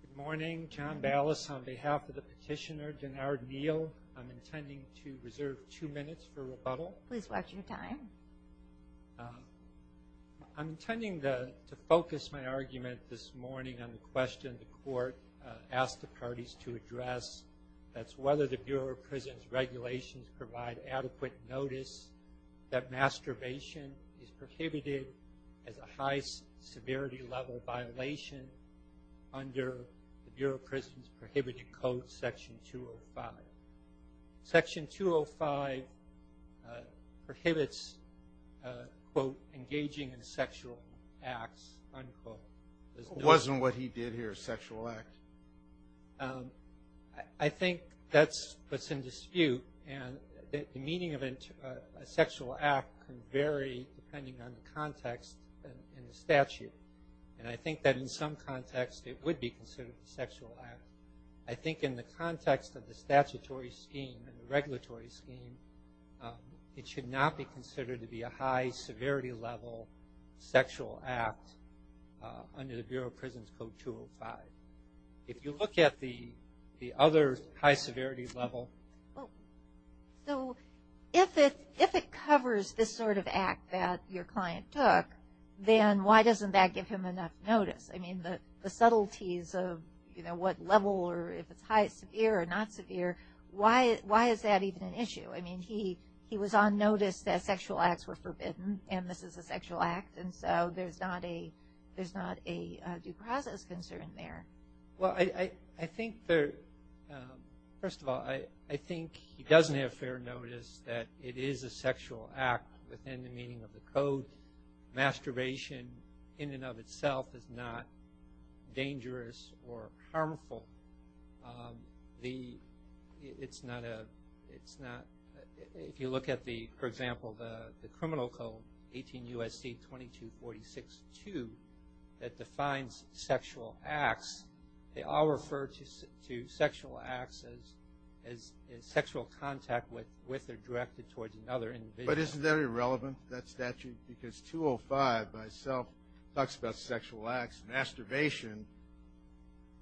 Good morning, John Ballas on behalf of the petitioner, Denard Neal. I'm intending to reserve two minutes for rebuttal. Please watch your time. I'm intending to focus my argument this morning on the question the court asked the parties to address. That's whether the Bureau of Prisons regulations provide adequate notice that masturbation is prohibited as a high severity level violation under the Bureau of Prisons prohibited code section 205. Section 205 prohibits, quote, engaging in sexual acts, unquote. It wasn't what he did here, a sexual act. I think that's what's in dispute. And the meaning of a sexual act can vary depending on the context in the statute. And I think that in some contexts it would be considered a sexual act. I think in the context of the statutory scheme and the regulatory scheme, it should not be considered to be a high severity level sexual act under the Bureau of Prisons code 205. If you look at the other high severity level. So if it covers this sort of act that your client took, then why doesn't that give him enough notice? I mean, the subtleties of, you know, what level or if it's severe or not severe, why is that even an issue? I mean, he was on notice that sexual acts were forbidden, and this is a sexual act, and so there's not a due process concern there. Well, I think there, first of all, I think he doesn't have fair notice that it is a sexual act within the meaning of the code. Masturbation in and of itself is not dangerous or harmful. The, it's not a, it's not, if you look at the, for example, the criminal code, 18 U.S.C. 2246-2, that defines sexual acts, they all refer to sexual acts as sexual contact with or directed towards another individual. But isn't that irrelevant, that statute? Because 205 by itself talks about sexual acts. Masturbation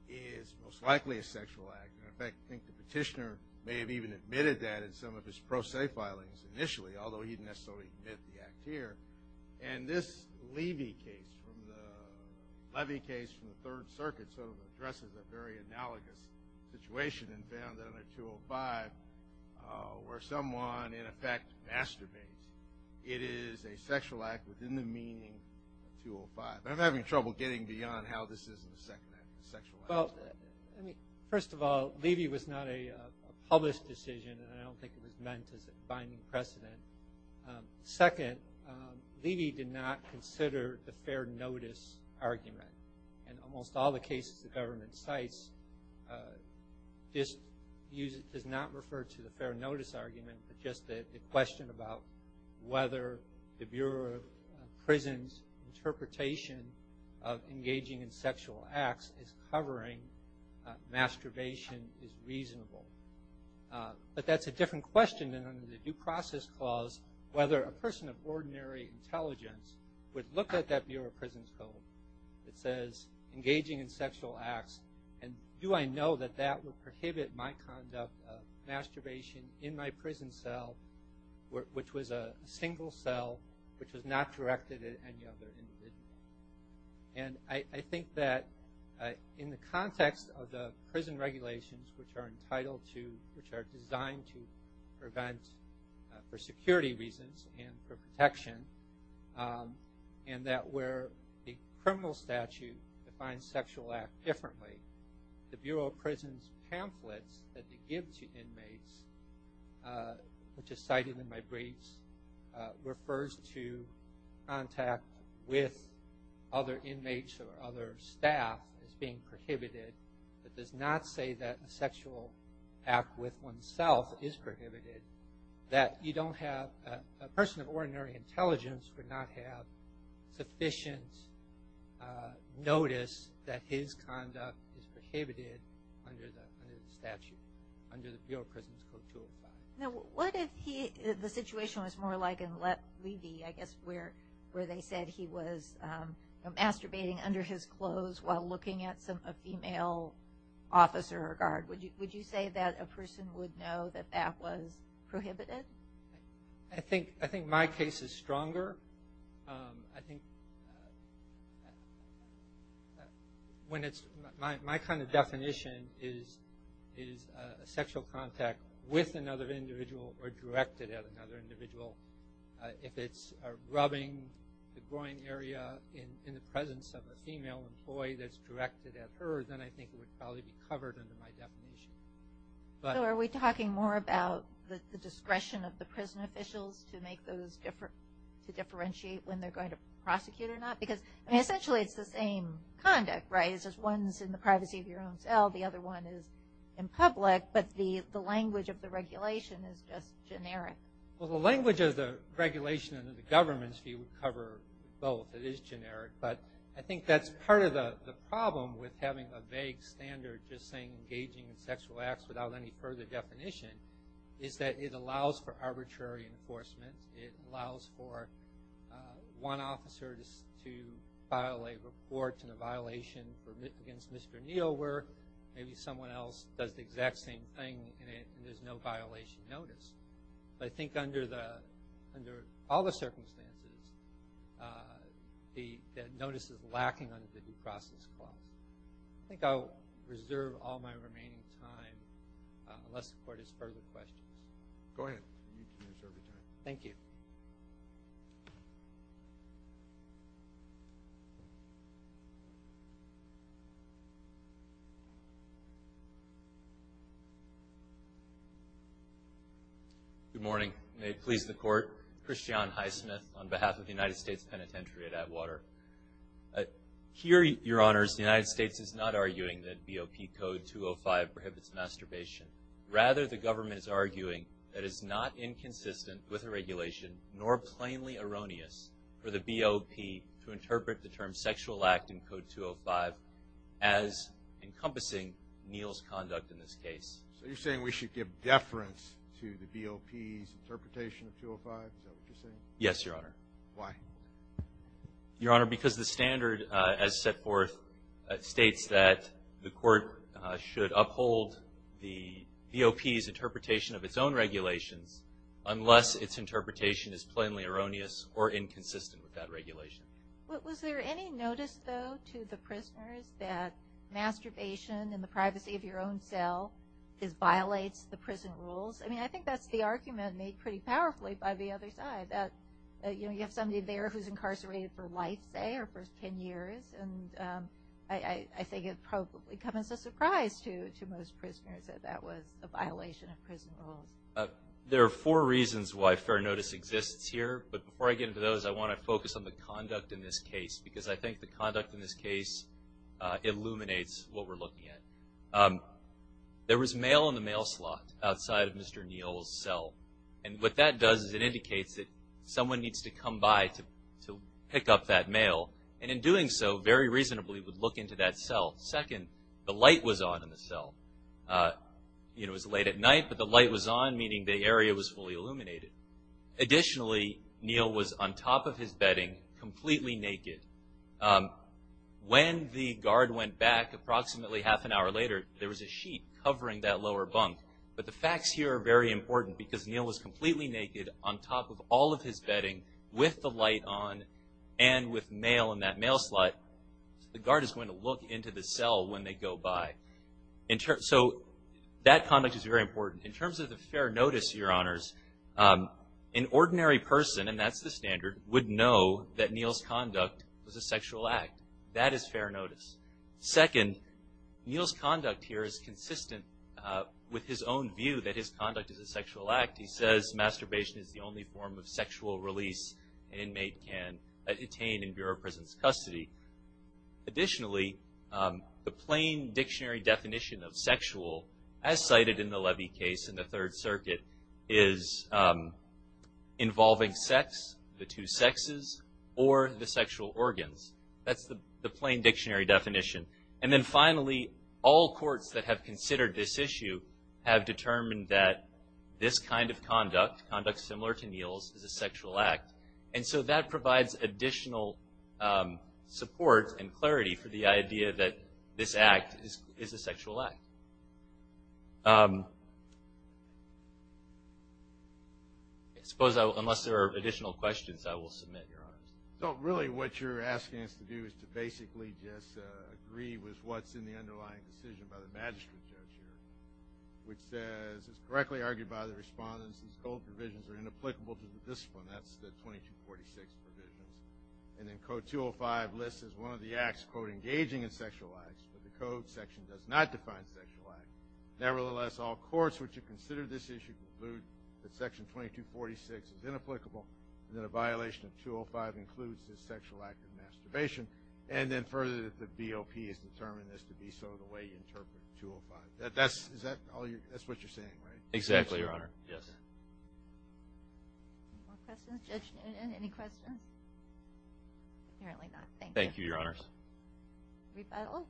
is most likely a sexual act. In fact, I think the petitioner may have even admitted that in some of his pro se filings initially, although he didn't necessarily admit the act here. And this Levy case from the Third Circuit sort of addresses a very analogous situation and found under 205 where someone, in effect, masturbates. It is a sexual act within the meaning of 205. I'm having trouble getting beyond how this isn't a second act, a sexual act. Well, first of all, Levy was not a published decision, and I don't think it was meant as a binding precedent. Second, Levy did not consider the fair notice argument. In almost all the cases the government cites, this does not refer to the fair notice argument, but just the question about whether the Bureau of Prisons interpretation of engaging in sexual acts is covering. Masturbation is reasonable. But that's a different question than under the Due Process Clause, whether a person of ordinary intelligence would look at that Bureau of Prisons code that says engaging in sexual acts and do I know that that would prohibit my conduct of masturbation in my prison cell, which was a single cell, which was not directed at any other individual. And I think that in the context of the prison regulations, which are entitled to, which are designed to prevent for security reasons and for protection, and that where the criminal statute defines sexual act differently, the Bureau of Prisons pamphlets that they give to inmates, which is cited in my briefs, refers to contact with other inmates or other staff as being prohibited. It does not say that a sexual act with oneself is prohibited, that you don't have, a person of ordinary intelligence would not have sufficient notice that his conduct is prohibited under the statute, under the Bureau of Prisons Code 205. Now, what if he, the situation was more like in Levy, I guess, where they said he was masturbating under his clothes while looking at a female officer or guard. Would you say that a person would know that that was prohibited? I think my case is stronger. I think when it's, my kind of definition is a sexual contact with another individual or directed at another individual. If it's rubbing the groin area in the presence of a female employee that's directed at her, then I think it would probably be covered under my definition. So are we talking more about the discretion of the prison officials to make those, to differentiate when they're going to prosecute or not? Because essentially it's the same conduct, right? One's in the privacy of your own cell, the other one is in public, but the language of the regulation is just generic. Well, the language of the regulation under the government's view would cover both. It is generic, but I think that's part of the problem with having a vague standard or just saying engaging in sexual acts without any further definition, is that it allows for arbitrary enforcement. It allows for one officer to file a report in a violation against Mr. Neal, where maybe someone else does the exact same thing and there's no violation notice. But I think under all the circumstances, the notice is lacking under the due process clause. I think I'll reserve all my remaining time unless the Court has further questions. Go ahead. You can reserve your time. Thank you. Good morning. May it please the Court. Christian Highsmith on behalf of the United States Penitentiary at Atwater. Here, Your Honors, the United States is not arguing that BOP Code 205 prohibits masturbation. Rather, the government is arguing that it's not inconsistent with the regulation nor plainly erroneous for the BOP to interpret the term sexual act in Code 205 as encompassing Neal's conduct in this case. So you're saying we should give deference to the BOP's interpretation of 205? Is that what you're saying? Yes, Your Honor. Why? Your Honor, because the standard, as set forth, states that the Court should uphold the BOP's interpretation of its own regulations unless its interpretation is plainly erroneous or inconsistent with that regulation. Was there any notice, though, to the prisoners that masturbation and the privacy of your own cell violates the prison rules? I mean, I think that's the argument made pretty powerfully by the other side, that you have somebody there who's incarcerated for life, say, or for 10 years. And I think it probably comes as a surprise to most prisoners that that was a violation of prison rules. There are four reasons why fair notice exists here. But before I get into those, I want to focus on the conduct in this case because I think the conduct in this case illuminates what we're looking at. There was mail in the mail slot outside of Mr. Neal's cell. And what that does is it indicates that someone needs to come by to pick up that mail. And in doing so, very reasonably, would look into that cell. Second, the light was on in the cell. It was late at night, but the light was on, meaning the area was fully illuminated. Additionally, Neal was on top of his bedding, completely naked. When the guard went back approximately half an hour later, there was a sheet covering that lower bunk. But the facts here are very important because Neal was completely naked on top of all of his bedding with the light on and with mail in that mail slot. The guard is going to look into the cell when they go by. So that conduct is very important. In terms of the fair notice, Your Honors, an ordinary person, and that's the standard, would know that Neal's conduct was a sexual act. That is fair notice. Second, Neal's conduct here is consistent with his own view that his conduct is a sexual act. He says masturbation is the only form of sexual release an inmate can attain in Bureau of Prison's custody. Additionally, the plain dictionary definition of sexual, as cited in the Levy case in the Third Circuit, is involving sex, the two sexes, or the sexual organs. That's the plain dictionary definition. And then finally, all courts that have considered this issue have determined that this kind of conduct, conduct similar to Neal's, is a sexual act. And so that provides additional support and clarity for the idea that this act is a sexual act. I suppose unless there are additional questions, I will submit, Your Honors. So really what you're asking us to do is to basically just agree with what's in the underlying decision by the magistrate judge here, which says, as correctly argued by the respondents, these code provisions are inapplicable to the discipline. That's the 2246 provisions. And then Code 205 lists as one of the acts, quote, engaging in sexual acts, but the code section does not define sexual acts. Nevertheless, all courts which have considered this issue conclude that Section 2246 is inapplicable and that a violation of 205 includes this sexual act of masturbation. And then further, the BOP has determined this to be so, the way you interpret 205. That's what you're saying, right? Exactly, Your Honor. Yes. Any more questions? Judge Noonan, any questions? Apparently not. Thank you, Your Honors. Rebuttal.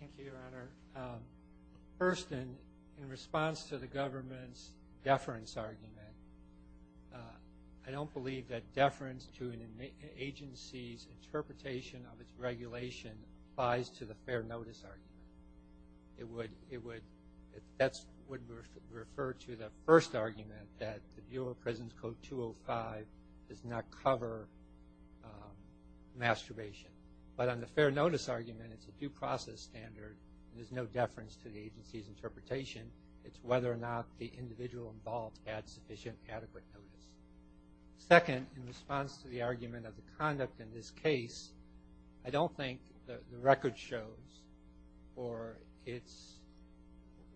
Thank you, Your Honor. First, in response to the government's deference argument, I don't believe that deference to an agency's interpretation of its regulation applies to the fair notice argument. That would refer to the first argument, that the Bureau of Prisons Code 205 does not cover masturbation. But on the fair notice argument, it's a due process standard. There's no deference to the agency's interpretation. It's whether or not the individual involved had sufficient adequate notice. Second, in response to the argument of the conduct in this case, I don't think the record shows or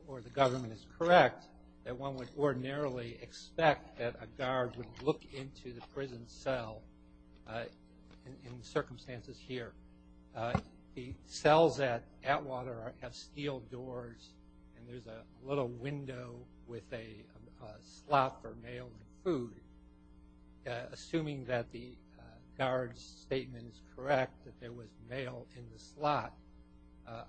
the government is correct that one would ordinarily expect that a guard would look into the prison cell in circumstances here. The cells at Atwater have steel doors, and there's a little window with a slot for mail and food. Assuming that the guard's statement is correct, that there was mail in the slot,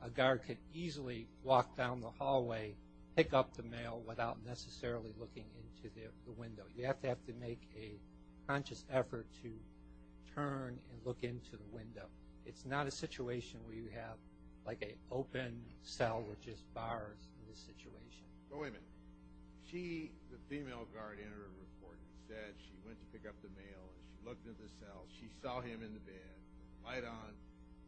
a guard could easily walk down the hallway, pick up the mail without necessarily looking into the window. You have to make a conscious effort to turn and look into the window. It's not a situation where you have like an open cell with just bars in this situation. But wait a minute. She, the female guard, entered the recording and said she went to pick up the mail, and she looked at the cell, she saw him in the bed,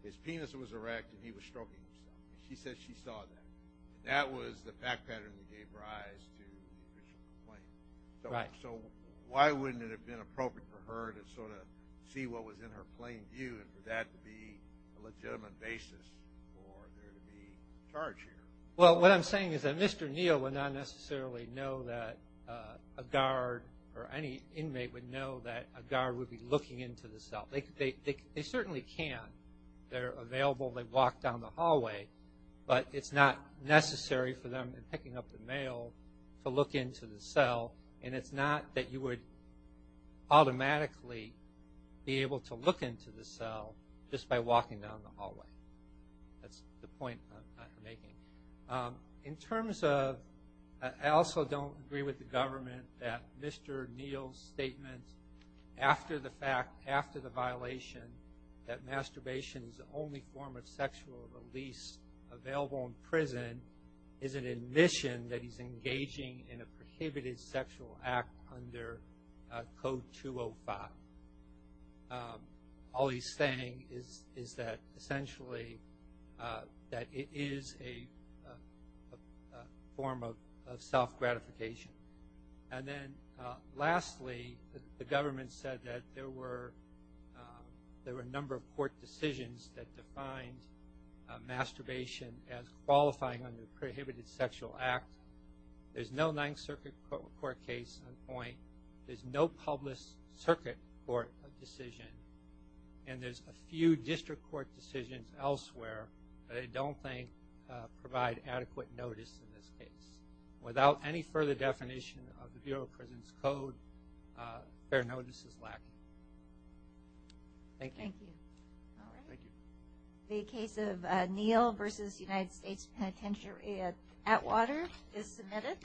his penis was erect, and he was stroking himself. She said she saw that. That was the fact pattern that gave rise to the official complaint. So why wouldn't it have been appropriate for her to sort of see what was in her plain view and for that to be a legitimate basis for there to be a charge here? Well, what I'm saying is that Mr. Neal would not necessarily know that a guard or any inmate would know that a guard would be looking into the cell. They certainly can. They're available. They walk down the hallway. But it's not necessary for them in picking up the mail to look into the cell, and it's not that you would automatically be able to look into the cell just by walking down the hallway. That's the point I'm making. In terms of, I also don't agree with the government that Mr. Neal's statement after the fact, that masturbation is the only form of sexual release available in prison, is an admission that he's engaging in a prohibited sexual act under Code 205. All he's saying is that, essentially, that it is a form of self-gratification. And then, lastly, the government said that there were a number of court decisions that defined masturbation as qualifying under the prohibited sexual act. There's no Ninth Circuit court case on point. There's no public circuit court decision, and there's a few district court decisions elsewhere that I don't think provide adequate notice in this case. Without any further definition of the Bureau of Prisons Code, their notice is lacking. Thank you. Thank you. The case of Neal v. United States Penitentiary at Atwater is submitted.